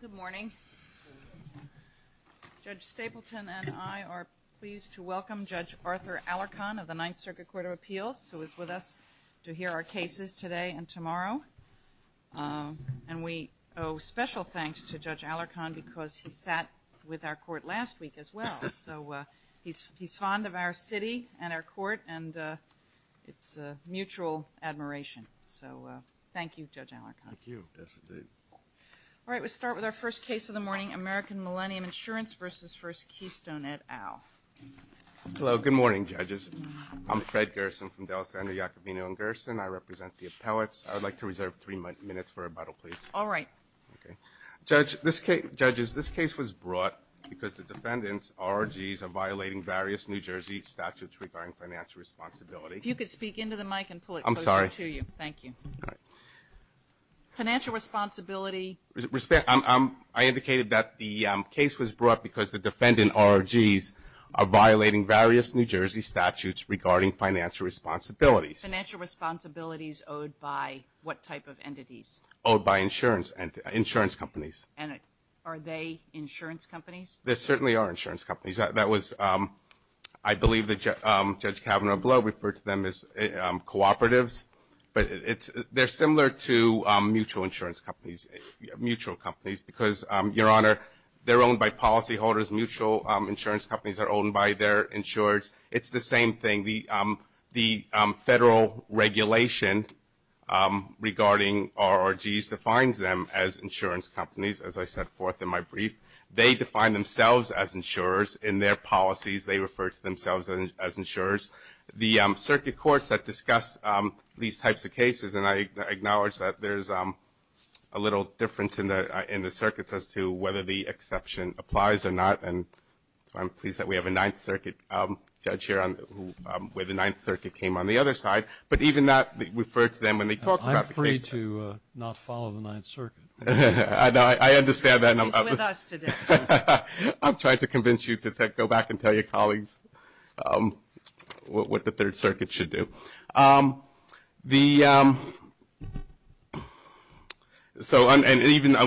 Good morning. Judge Stapleton and I are pleased to welcome Judge Arthur Alarcon of the Ninth Circuit Court of Appeals, who is with us to hear our cases today and tomorrow. And we owe special thanks to Judge Alarcon because he sat with our court last week as well. So he's fond of our city and our court and it's a mutual admiration. So thank you, Judge Alarcon. Thank you. All right. We'll start with our first case of the morning, American Millennium Insurance v. First Keystone et al. Hello. Good morning, judges. I'm Fred Gerson from DelSando, Iacobino & Gerson. I represent the appellates. I would like to reserve three minutes for rebuttal, please. All right. Okay. Judges, this case was brought because the defendants' ROGs are violating various New Jersey statutes regarding financial responsibility. If you could speak into the mic and pull it closer to you. I'm sorry. Thank you. Financial responsibility. I indicated that the case was brought because the defendant ROGs are violating various New Jersey statutes regarding financial responsibilities. Financial responsibilities owed by what type of entities? Owed by insurance companies. And are they insurance companies? They certainly are insurance companies. That was, I believe that Judge Kavanaugh below referred to them as cooperatives. But they're similar to mutual insurance companies, mutual companies, because, Your Honor, they're owned by policyholders. Mutual insurance companies are owned by their insurers. It's the same thing. The federal regulation regarding ROGs defines them as insurance companies, as I set forth in my brief. They define themselves as insurers in their policies. They refer to themselves as insurers. The circuit courts that discuss these types of cases, and I acknowledge that there's a little difference in the circuits as to whether the exception applies or not. And so I'm pleased that we have a Ninth Circuit judge here where the Ninth Circuit came on the other side. But even that referred to them when they talked about the case. I'm free to not follow the Ninth Circuit. I understand that. He's with us today. I'm trying to convince you to go back and tell your colleagues what the Third Circuit should do. And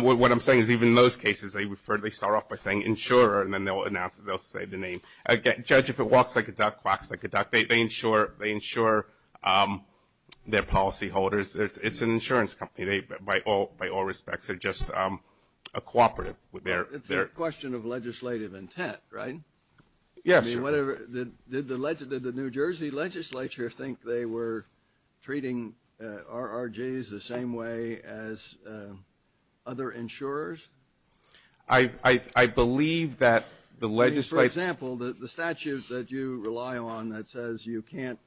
what I'm saying is even in those cases, they start off by saying insurer, and then they'll announce it. They'll say the name. A judge, if it walks like a duck, quacks like a duck, they insure their policyholders. It's an insurance company. By all respects, they're just a cooperative. It's a question of legislative intent, right? Yes. Did the New Jersey legislature think they were treating RRGs the same way as other insurers? I believe that the legislature For example, the statute that you rely on that says you can't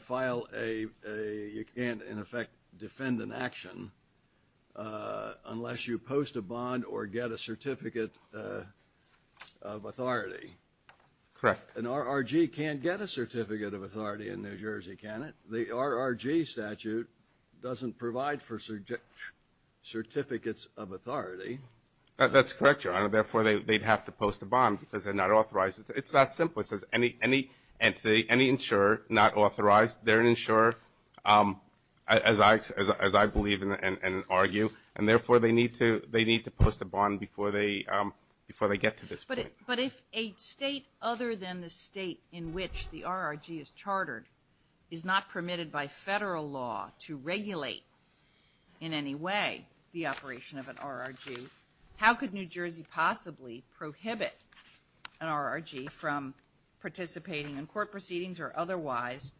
file a you can't, in effect, defend an action unless you post a bond or get a certificate of authority. Correct. An RRG can't get a certificate of authority in New Jersey, can it? The RRG statute doesn't provide for certificates of authority. That's correct, Your Honor. Therefore, they'd have to post a bond because they're not authorized. It's that simple. It says any insurer not authorized, they're an insurer, as I believe and argue, and therefore they need to post a bond before they get to this point. But if a state other than the state in which the RRG is chartered is not permitted by federal law to regulate, in any way, the operation of an RRG, how could New Jersey possibly prohibit an RRG from participating in court proceedings or otherwise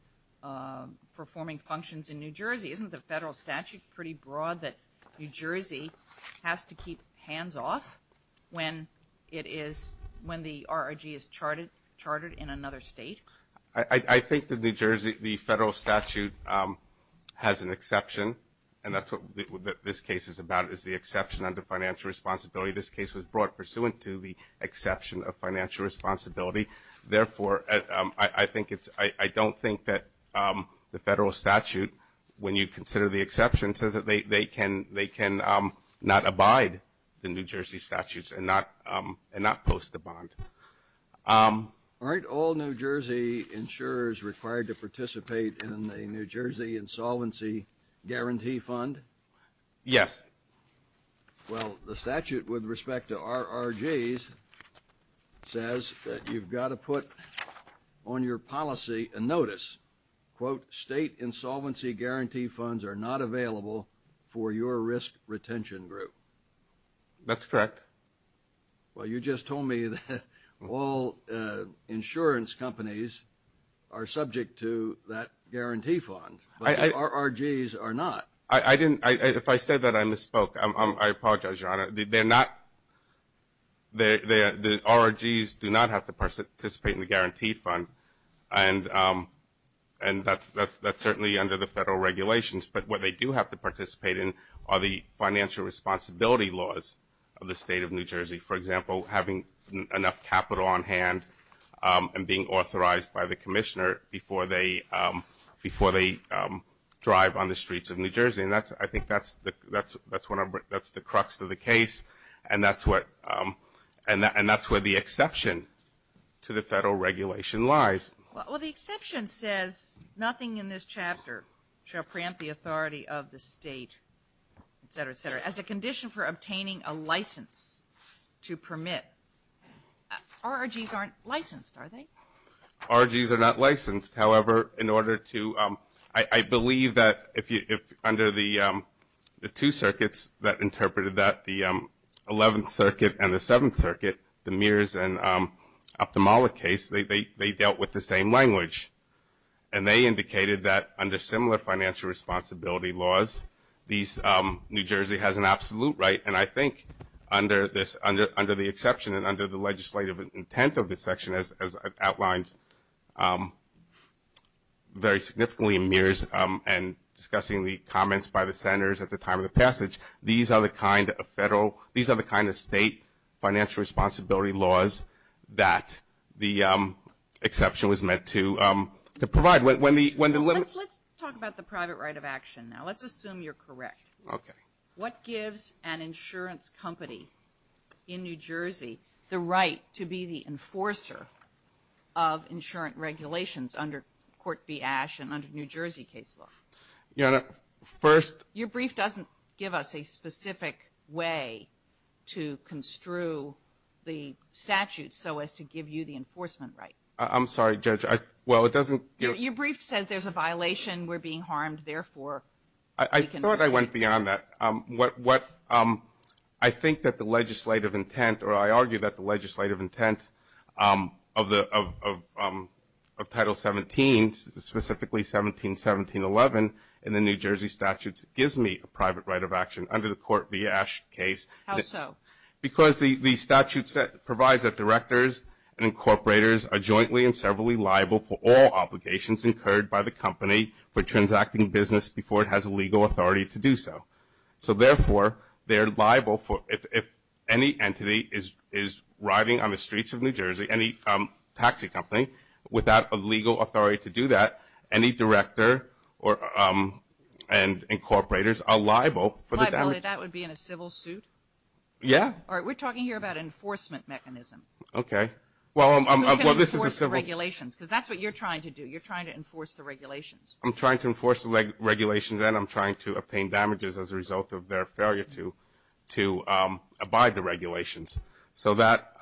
performing functions in New Jersey? Isn't the federal statute pretty broad that New Jersey has to keep hands off when the RRG is chartered in another state? I think that the federal statute has an exception, and that's what this case is about is the exception under financial responsibility. This case was brought pursuant to the exception of financial responsibility. Therefore, I don't think that the federal statute, when you consider the exception, says that they can not abide the New Jersey statutes and not post a bond. Aren't all New Jersey insurers required to participate in a New Jersey insolvency guarantee fund? Yes. Well, the statute with respect to RRGs says that you've got to put on your policy a notice, quote, state insolvency guarantee funds are not available for your risk retention group. That's correct. Well, you just told me that all insurance companies are subject to that guarantee fund, but the RRGs are not. If I said that, I misspoke. I apologize, Your Honor. The RRGs do not have to participate in the guarantee fund, and that's certainly under the federal regulations. But what they do have to participate in are the financial responsibility laws of the state of New Jersey. For example, having enough capital on hand and being authorized by the commissioner before they drive on the streets of New Jersey. And I think that's the crux of the case, and that's where the exception to the federal regulation lies. Well, the exception says nothing in this chapter shall preempt the authority of the state, et cetera, et cetera. As a condition for obtaining a license to permit, RRGs aren't licensed, are they? RRGs are not licensed. However, in order to ‑‑ I believe that under the two circuits that interpreted that, the 11th Circuit and the 7th Circuit, the Mears and Optimale case, they dealt with the same language. And they indicated that under similar financial responsibility laws, New Jersey has an absolute right, and I think under the exception and under the legislative intent of this section, as outlined very significantly in Mears and discussing the comments by the senators at the time of the passage, these are the kind of state financial responsibility laws that the exception was meant to provide. Let's talk about the private right of action now. Let's assume you're correct. Okay. What gives an insurance company in New Jersey the right to be the enforcer of insurance regulations under Court v. Ashe and under New Jersey case law? Your Honor, first ‑‑ Your brief doesn't give us a specific way to construe the statute so as to give you the enforcement right. I'm sorry, Judge. Well, it doesn't ‑‑ Your brief says there's a violation, we're being harmed, therefore ‑‑ I thought I went beyond that. I think that the legislative intent, or I argue that the legislative intent of Title 17, specifically 17.17.11 in the New Jersey statute gives me a private right of action under the Court v. Ashe case. How so? Because the statute provides that directors and incorporators are jointly and severally liable for all obligations incurred by the company for transacting business before it has a legal authority to do so. So, therefore, they're liable if any entity is riding on the streets of New Jersey, any taxi company, without a legal authority to do that, any director and incorporators are liable for the damage. Liability, that would be in a civil suit? Yeah. All right, we're talking here about an enforcement mechanism. Okay. You're not going to enforce the regulations because that's what you're trying to do. You're trying to enforce the regulations. I'm trying to enforce the regulations and I'm trying to obtain damages as a result of their failure to abide the regulations. So that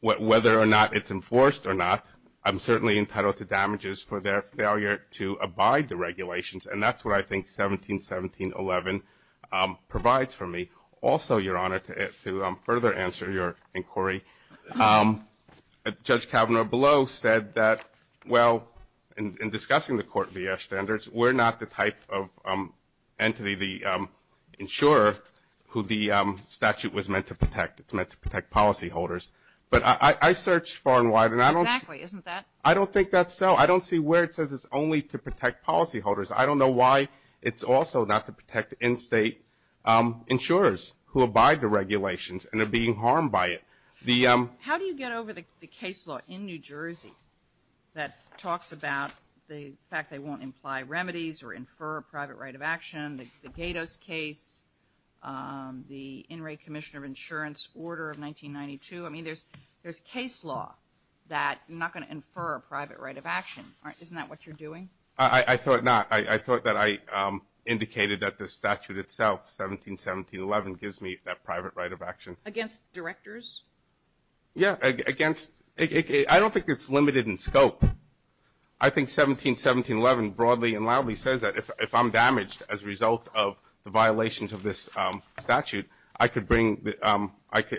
whether or not it's enforced or not, I'm certainly entitled to damages for their failure to abide the regulations, and that's what I think 17.17.11 provides for me. Also, Your Honor, to further answer your inquiry, Judge Kavanaugh below said that, well, in discussing the court V.F. standards, we're not the type of entity, the insurer, who the statute was meant to protect. It's meant to protect policyholders. But I searched far and wide and I don't see. Exactly. Isn't that? I don't think that's so. I don't see where it says it's only to protect policyholders. I don't know why it's also not to protect in-state insurers who abide the regulations and are being harmed by it. How do you get over the case law in New Jersey that talks about the fact they won't imply remedies or infer a private right of action, the Gatos case, the in-rate commissioner of insurance order of 1992? I mean, there's case law that you're not going to infer a private right of action. Isn't that what you're doing? I thought not. I thought that I indicated that the statute itself, 17.17.11, gives me that private right of action. Against directors? Yeah, against. I don't think it's limited in scope. I think 17.17.11 broadly and loudly says that if I'm damaged as a result of the violations of this statute, I could bring the ‑‑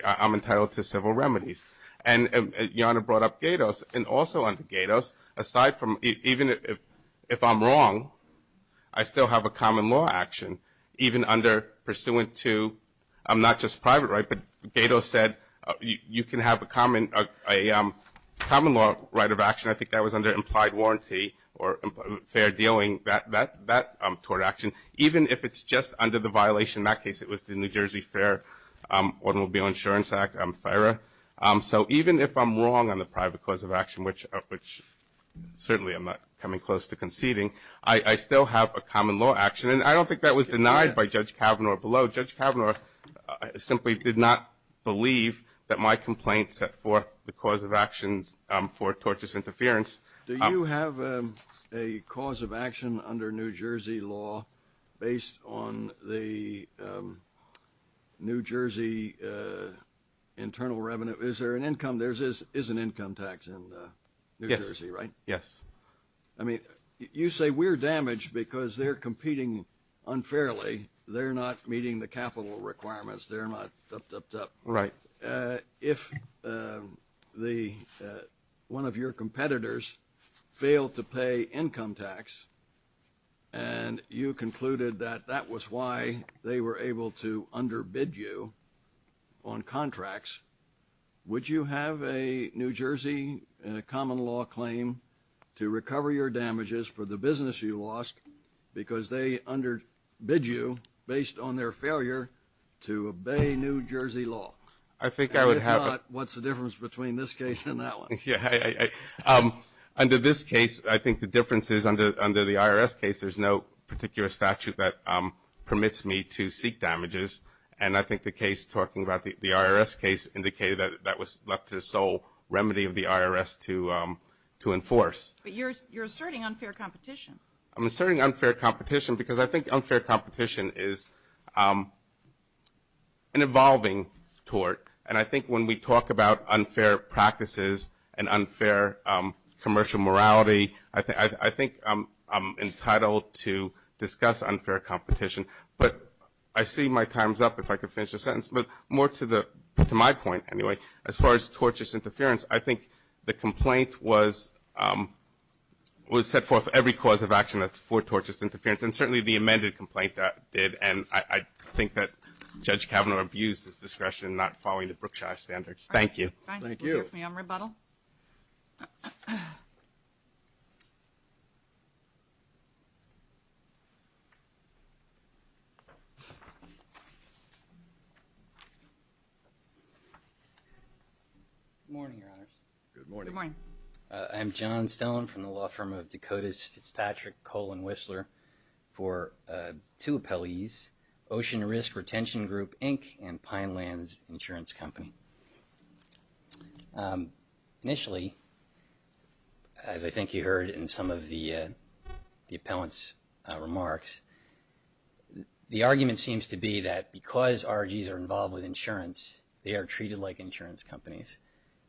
I'm entitled to civil remedies. And Your Honor brought up Gatos. And also under Gatos, aside from even if I'm wrong, I still have a common law action, even under pursuant to not just private right, but Gatos said you can have a common law right of action. I think that was under implied warranty or fair dealing, that toward action. Even if it's just under the violation, in that case it was the New Jersey Fair Automobile Insurance Act, FARA. So even if I'm wrong on the private cause of action, which certainly I'm not coming close to conceding, I still have a common law action. And I don't think that was denied by Judge Kavanaugh below. Judge Kavanaugh simply did not believe that my complaint set forth the cause of actions for tortious interference. Do you have a cause of action under New Jersey law based on the New Jersey internal revenue? Is there an income? There is an income tax in New Jersey, right? Yes. I mean, you say we're damaged because they're competing unfairly. They're not meeting the capital requirements. They're not up, up, up. Right. If one of your competitors failed to pay income tax and you concluded that that was why they were able to underbid you on contracts, would you have a New Jersey common law claim to recover your damages for the business you lost because they underbid you based on their failure to obey New Jersey law? I think I would have. And if not, what's the difference between this case and that one? Under this case, I think the difference is under the IRS case there's no particular statute that permits me to seek damages. And I think the case talking about the IRS case indicated that that was left to the sole remedy of the IRS to enforce. But you're asserting unfair competition. I'm asserting unfair competition because I think unfair competition is an evolving tort. And I think when we talk about unfair practices and unfair commercial morality, I think I'm entitled to discuss unfair competition. But I see my time's up, if I could finish the sentence. But more to my point, anyway, as far as tortious interference, I think the complaint was set forth every cause of action that's for tortious interference, and certainly the amended complaint did. And I think that Judge Kavanaugh abused his discretion not following the Brookshire standards. Thank you. Thank you. Thank you. Good morning, Your Honors. Good morning. Good morning. I'm John Stone from the law firm of Dakota's Fitzpatrick Coal & Whistler for two appellees, Ocean Risk Retention Group, Inc., and Pinelands Insurance Company. Initially, as I think you heard in some of the appellant's remarks, the argument seems to be that because ROGs are involved with insurance, they are treated like insurance companies.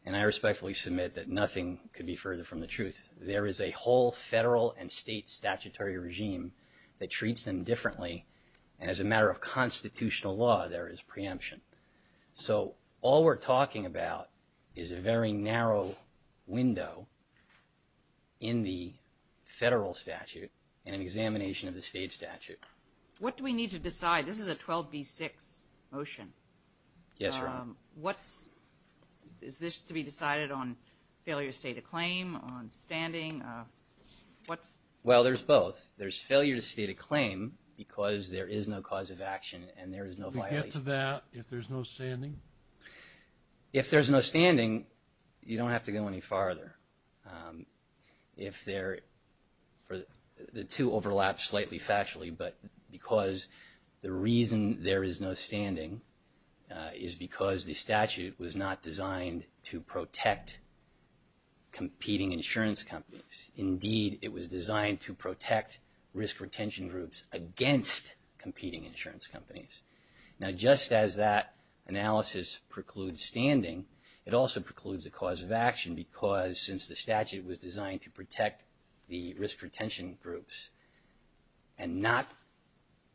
And I respectfully submit that nothing could be further from the truth. There is a whole federal and state statutory regime that treats them differently, and as a matter of constitutional law, there is preemption. So all we're talking about is a very narrow window in the federal statute and an examination of the state statute. What do we need to decide? Yes, Your Honor. Is this to be decided on failure to state a claim, on standing? Well, there's both. There's failure to state a claim because there is no cause of action and there is no violation. To get to that, if there's no standing? If there's no standing, you don't have to go any farther. The two overlap slightly factually, but because the reason there is no standing is because the statute was not designed to protect competing insurance companies. Indeed, it was designed to protect risk retention groups against competing insurance companies. Now, just as that analysis precludes standing, it also precludes a cause of action because since the statute was designed to protect the risk retention groups and not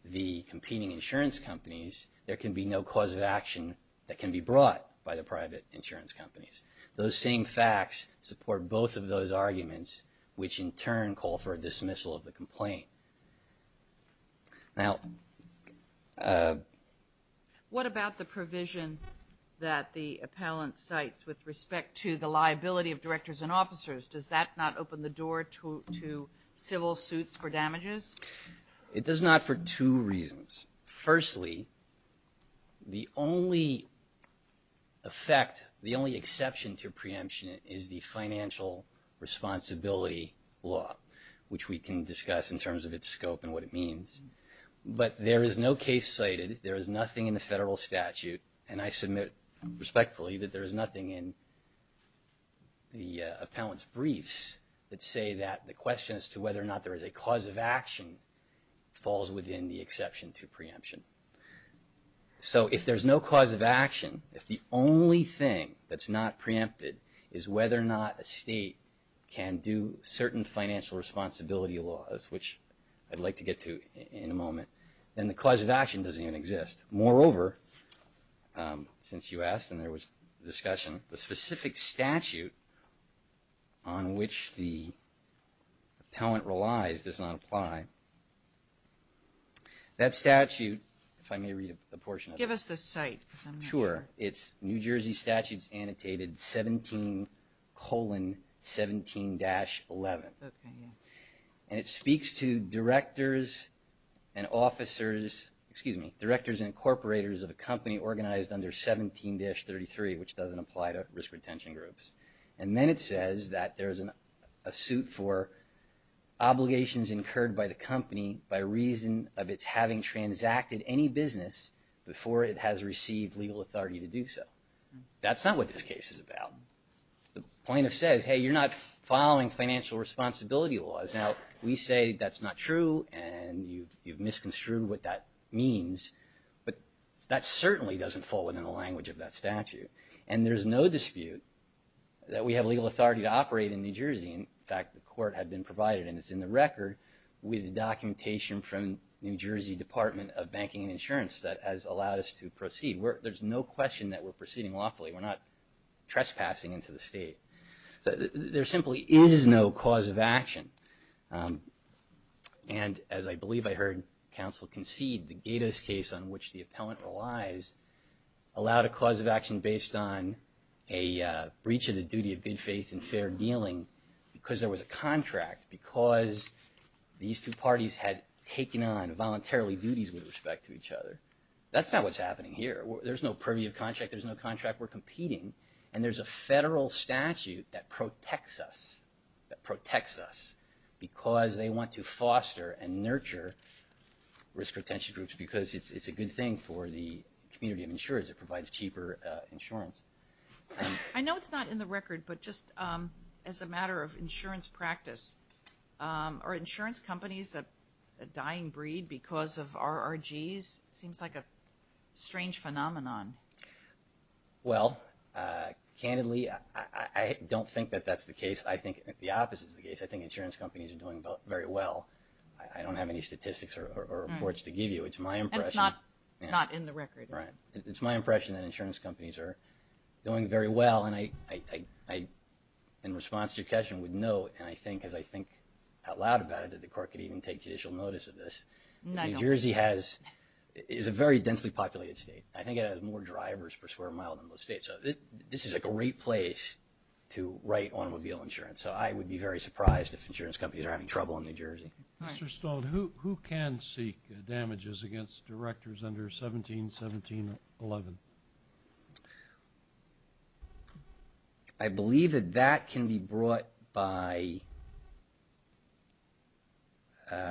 the competing insurance companies, there can be no cause of action that can be brought by the private insurance companies. Those same facts support both of those arguments, which in turn call for a dismissal of the complaint. Now... What about the provision that the appellant cites with respect to the liability of directors and officers? Does that not open the door to civil suits for damages? It does not for two reasons. Firstly, the only effect, the only exception to preemption is the financial responsibility law, which we can discuss in terms of its scope and what it means. But there is no case cited, there is nothing in the federal statute, and I submit respectfully that there is nothing in the appellant's briefs that say that the question as to whether or not there is a cause of action falls within the exception to preemption. So if there's no cause of action, if the only thing that's not preempted is whether or not a state can do certain financial responsibility laws, which I'd like to get to in a moment, then the cause of action doesn't even exist. Moreover, since you asked and there was discussion, the specific statute on which the appellant relies does not apply. That statute, if I may read a portion of it. Give us the cite, because I'm not sure. It's New Jersey Statutes Annotated 17,17-11. And it speaks to directors and officers, excuse me, directors and incorporators of a company organized under 17-33, which doesn't apply to risk retention groups. And then it says that there's a suit for obligations incurred by the company by reason of its having transacted any business before it has received legal authority to do so. That's not what this case is about. The plaintiff says, hey, you're not following financial responsibility laws. Now, we say that's not true and you've misconstrued what that means, but that certainly doesn't fall within the language of that statute. And there's no dispute that we have legal authority to operate in New Jersey. In fact, the court had been provided, and it's in the record, with documentation from New Jersey Department of Banking and Insurance that has allowed us to proceed. There's no question that we're proceeding lawfully. We're not trespassing into the state. There simply is no cause of action. And as I believe I heard counsel concede, the Gatos case on which the appellant relies allowed a cause of action based on a breach of the duty of good faith and fair dealing because there was a contract, because these two parties had taken on voluntarily duties with respect to each other. That's not what's happening here. There's no privy of contract. There's no contract. We're competing. And there's a federal statute that protects us, that protects us, because they want to foster and nurture risk retention groups because it's a good thing for the community of insurers. It provides cheaper insurance. I know it's not in the record, but just as a matter of insurance practice, are insurance companies a dying breed because of RRGs? It seems like a strange phenomenon. Well, candidly, I don't think that that's the case. I think the opposite is the case. I think insurance companies are doing very well. I don't have any statistics or reports to give you. It's my impression. And it's not in the record. It's my impression that insurance companies are doing very well. And in response to your question, I would note, and I think as I think out loud about it, that the court could even take judicial notice of this. New Jersey is a very densely populated state. I think it has more drivers per square mile than most states. So this is a great place to write automobile insurance. So I would be very surprised if insurance companies are having trouble in New Jersey. Mr. Stoltz, who can seek damages against directors under 171711? I believe that that can be brought by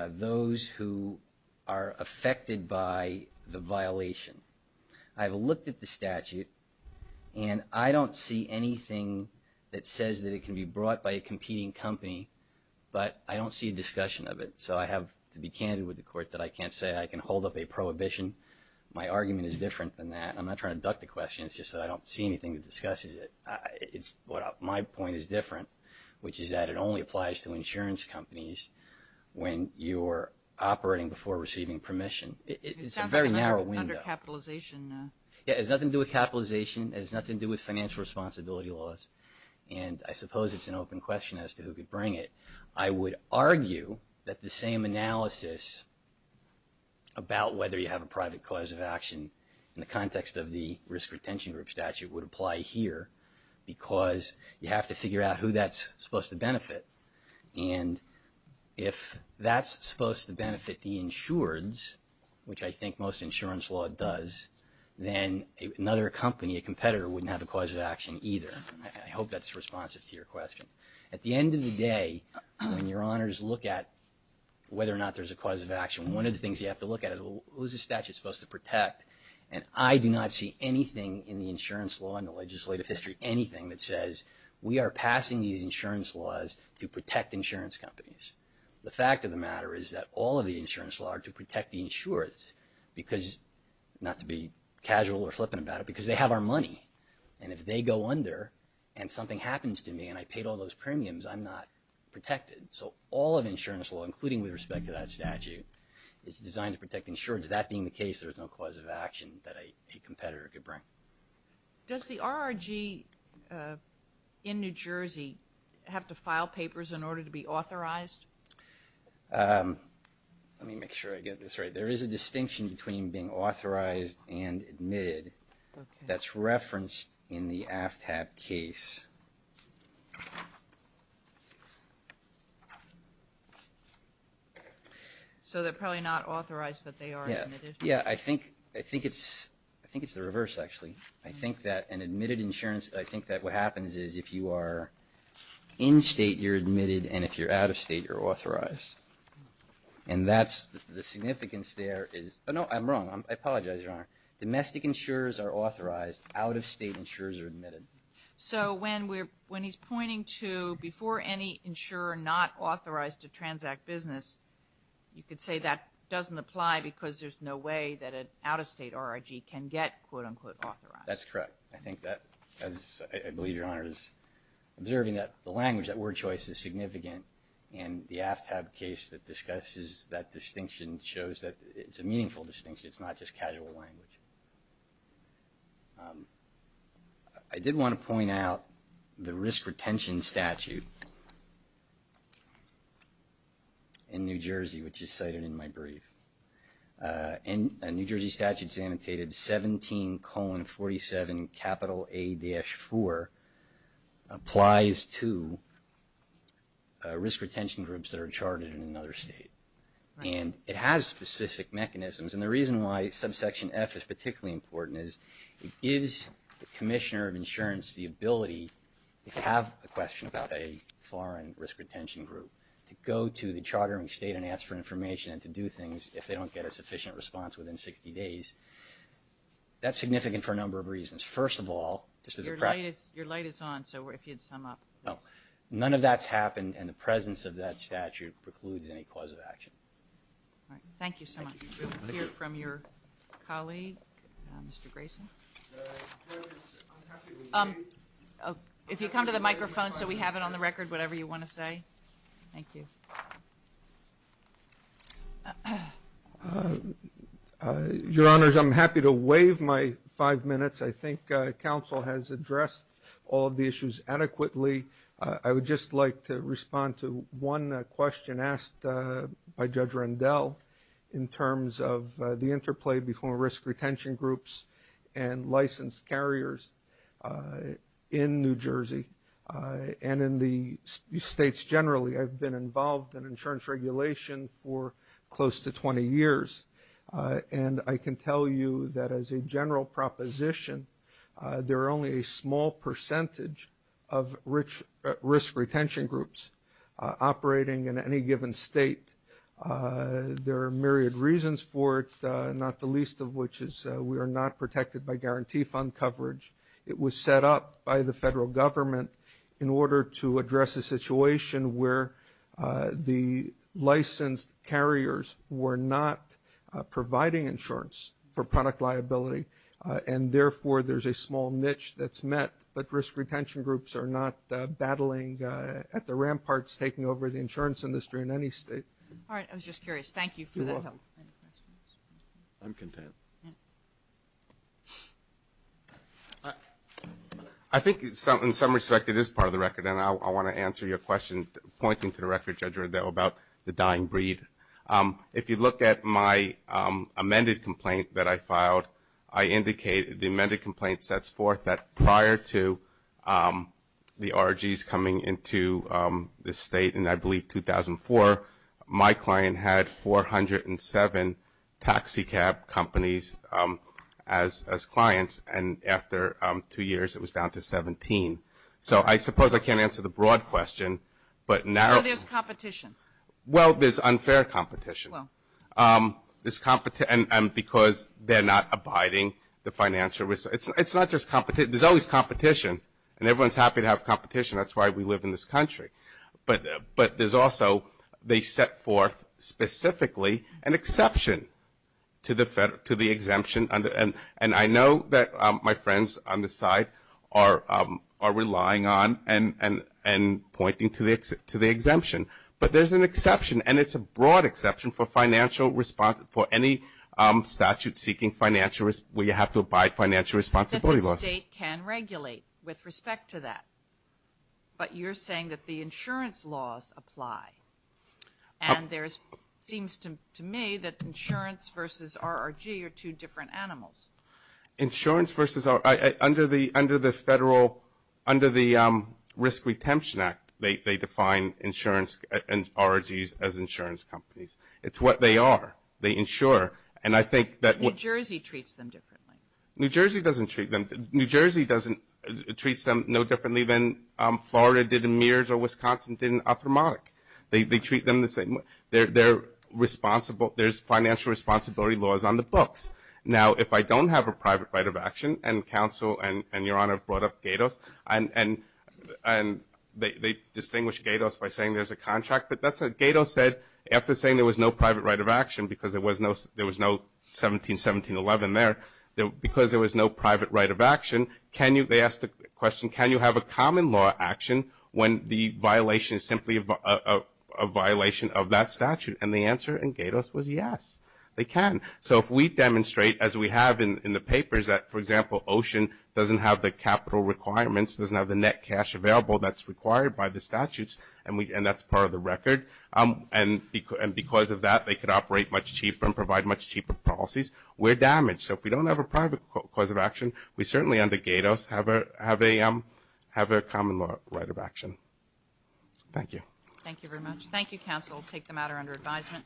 those who are affected by the violation. I've looked at the statute, and I don't see anything that says that it can be brought by a competing company, but I don't see a discussion of it. So I have to be candid with the court that I can't say I can hold up a prohibition. My argument is different than that. I'm not trying to duck the question. It's just that I don't see anything that discusses it. My point is different, which is that it only applies to insurance companies when you're operating before receiving permission. It's a very narrow window. It sounds like an undercapitalization. It has nothing to do with capitalization. It has nothing to do with financial responsibility laws. And I suppose it's an open question as to who could bring it. I would argue that the same analysis about whether you have a private cause of action in the context of the risk retention group statute would apply here because you have to figure out who that's supposed to benefit. And if that's supposed to benefit the insureds, which I think most insurance law does, then another company, a competitor, wouldn't have a cause of action either. I hope that's responsive to your question. At the end of the day, when your honors look at whether or not there's a cause of action, one of the things you have to look at is, well, who is this statute supposed to protect? And I do not see anything in the insurance law and the legislative history, anything that says we are passing these insurance laws to protect insurance companies. The fact of the matter is that all of the insurance laws are to protect the insureds because, not to be casual or flippant about it, because they have our money. And if they go under and something happens to me and I paid all those premiums, I'm not protected. So all of insurance law, including with respect to that statute, is designed to protect insureds. That being the case, there's no cause of action that a competitor could bring. Does the RRG in New Jersey have to file papers in order to be authorized? Let me make sure I get this right. There is a distinction between being authorized and admitted. That's referenced in the AFTAP case. So they're probably not authorized, but they are admitted? Yeah, I think it's the reverse, actually. I think that what happens is if you are in state, you're admitted, and that's the significance there. Oh, no, I'm wrong. I apologize, Your Honor. Domestic insurers are authorized. Out-of-state insurers are admitted. So when he's pointing to before any insurer not authorized to transact business, you could say that doesn't apply because there's no way that an out-of-state RRG can get, quote, unquote, authorized. That's correct. I think that, as I believe Your Honor is observing, that the language, that word choice is significant, and the AFTAP case that discusses that distinction shows that it's a meaningful distinction. It's not just casual language. I did want to point out the risk retention statute in New Jersey, which is cited in my brief. And a New Jersey statute is annotated 17-47-A-4 applies to risk retention groups that are chartered in another state. And it has specific mechanisms, and the reason why subsection F is particularly important is it gives the commissioner of insurance the ability if you have a question about a foreign risk retention group to go to the chartering state and ask for information and to do things if they don't get a sufficient response within 60 days. That's significant for a number of reasons. First of all, just as a practice. Your light is on, so if you'd sum up. None of that's happened, and the presence of that statute precludes any cause of action. All right. Thank you so much. We'll hear from your colleague, Mr. Grayson. If you come to the microphone so we have it on the record, whatever you want to say. Okay. Thank you. Your Honors, I'm happy to waive my five minutes. I think counsel has addressed all of the issues adequately. I would just like to respond to one question asked by Judge Rendell in terms of the interplay between risk retention groups and licensed carriers in New Jersey and in the states generally. I've been involved in insurance regulation for close to 20 years, and I can tell you that as a general proposition, there are only a small percentage of risk retention groups operating in any given state. There are myriad reasons for it, not the least of which is we are not protected by guarantee fund coverage. It was set up by the federal government in order to address a situation where the licensed carriers were not providing insurance for product liability, and therefore there's a small niche that's met, but risk retention groups are not battling at the ramparts taking over the insurance industry in any state. All right. I was just curious. Thank you for the help. I'm content. I think in some respect it is part of the record, and I want to answer your question pointing to the record, Judge Rendell, about the dying breed. If you look at my amended complaint that I filed, I indicate the amended complaint sets forth that prior to the ROGs coming into the state, and I believe 2004, my client had 407 taxicab companies as clients, and after two years it was down to 17. So I suppose I can't answer the broad question, but narrowly. So there's competition. Well, there's unfair competition. Well. And because they're not abiding the financial risk. It's not just competition. There's always competition, and everyone's happy to have competition. That's why we live in this country. But there's also they set forth specifically an exception to the exemption, and I know that my friends on this side are relying on and pointing to the exemption. But there's an exception, and it's a broad exception for any statute seeking financial risk where you have to abide financial responsibility laws. That the state can regulate with respect to that. But you're saying that the insurance laws apply, and it seems to me that insurance versus ROG are two different animals. Insurance versus ROG. Under the Federal, under the Risk Retention Act, they define insurance and ROGs as insurance companies. It's what they are. They insure. And I think that. New Jersey treats them differently. New Jersey doesn't treat them. New Jersey doesn't treat them no differently than Florida did in Mears or Wisconsin did in Ophthalmotic. They treat them the same way. They're responsible. There's financial responsibility laws on the books. Now, if I don't have a private right of action, and counsel and Your Honor have brought up GATOS, and they distinguish GATOS by saying there's a contract. But that's what GATOS said. After saying there was no private right of action because there was no 171711 there, because there was no private right of action, can you, they asked the question, can you have a common law action when the violation is simply a violation of that statute? And the answer in GATOS was yes. They can. So if we demonstrate, as we have in the papers, that, for example, OCEAN doesn't have the capital requirements, doesn't have the net cash available that's required by the statutes, and that's part of the record, and because of that they could operate much cheaper and provide much cheaper policies, we're damaged. So if we don't have a private cause of action, we certainly under GATOS have a common right of action. Thank you. Thank you very much. Thank you, counsel. We'll take the matter under advisement.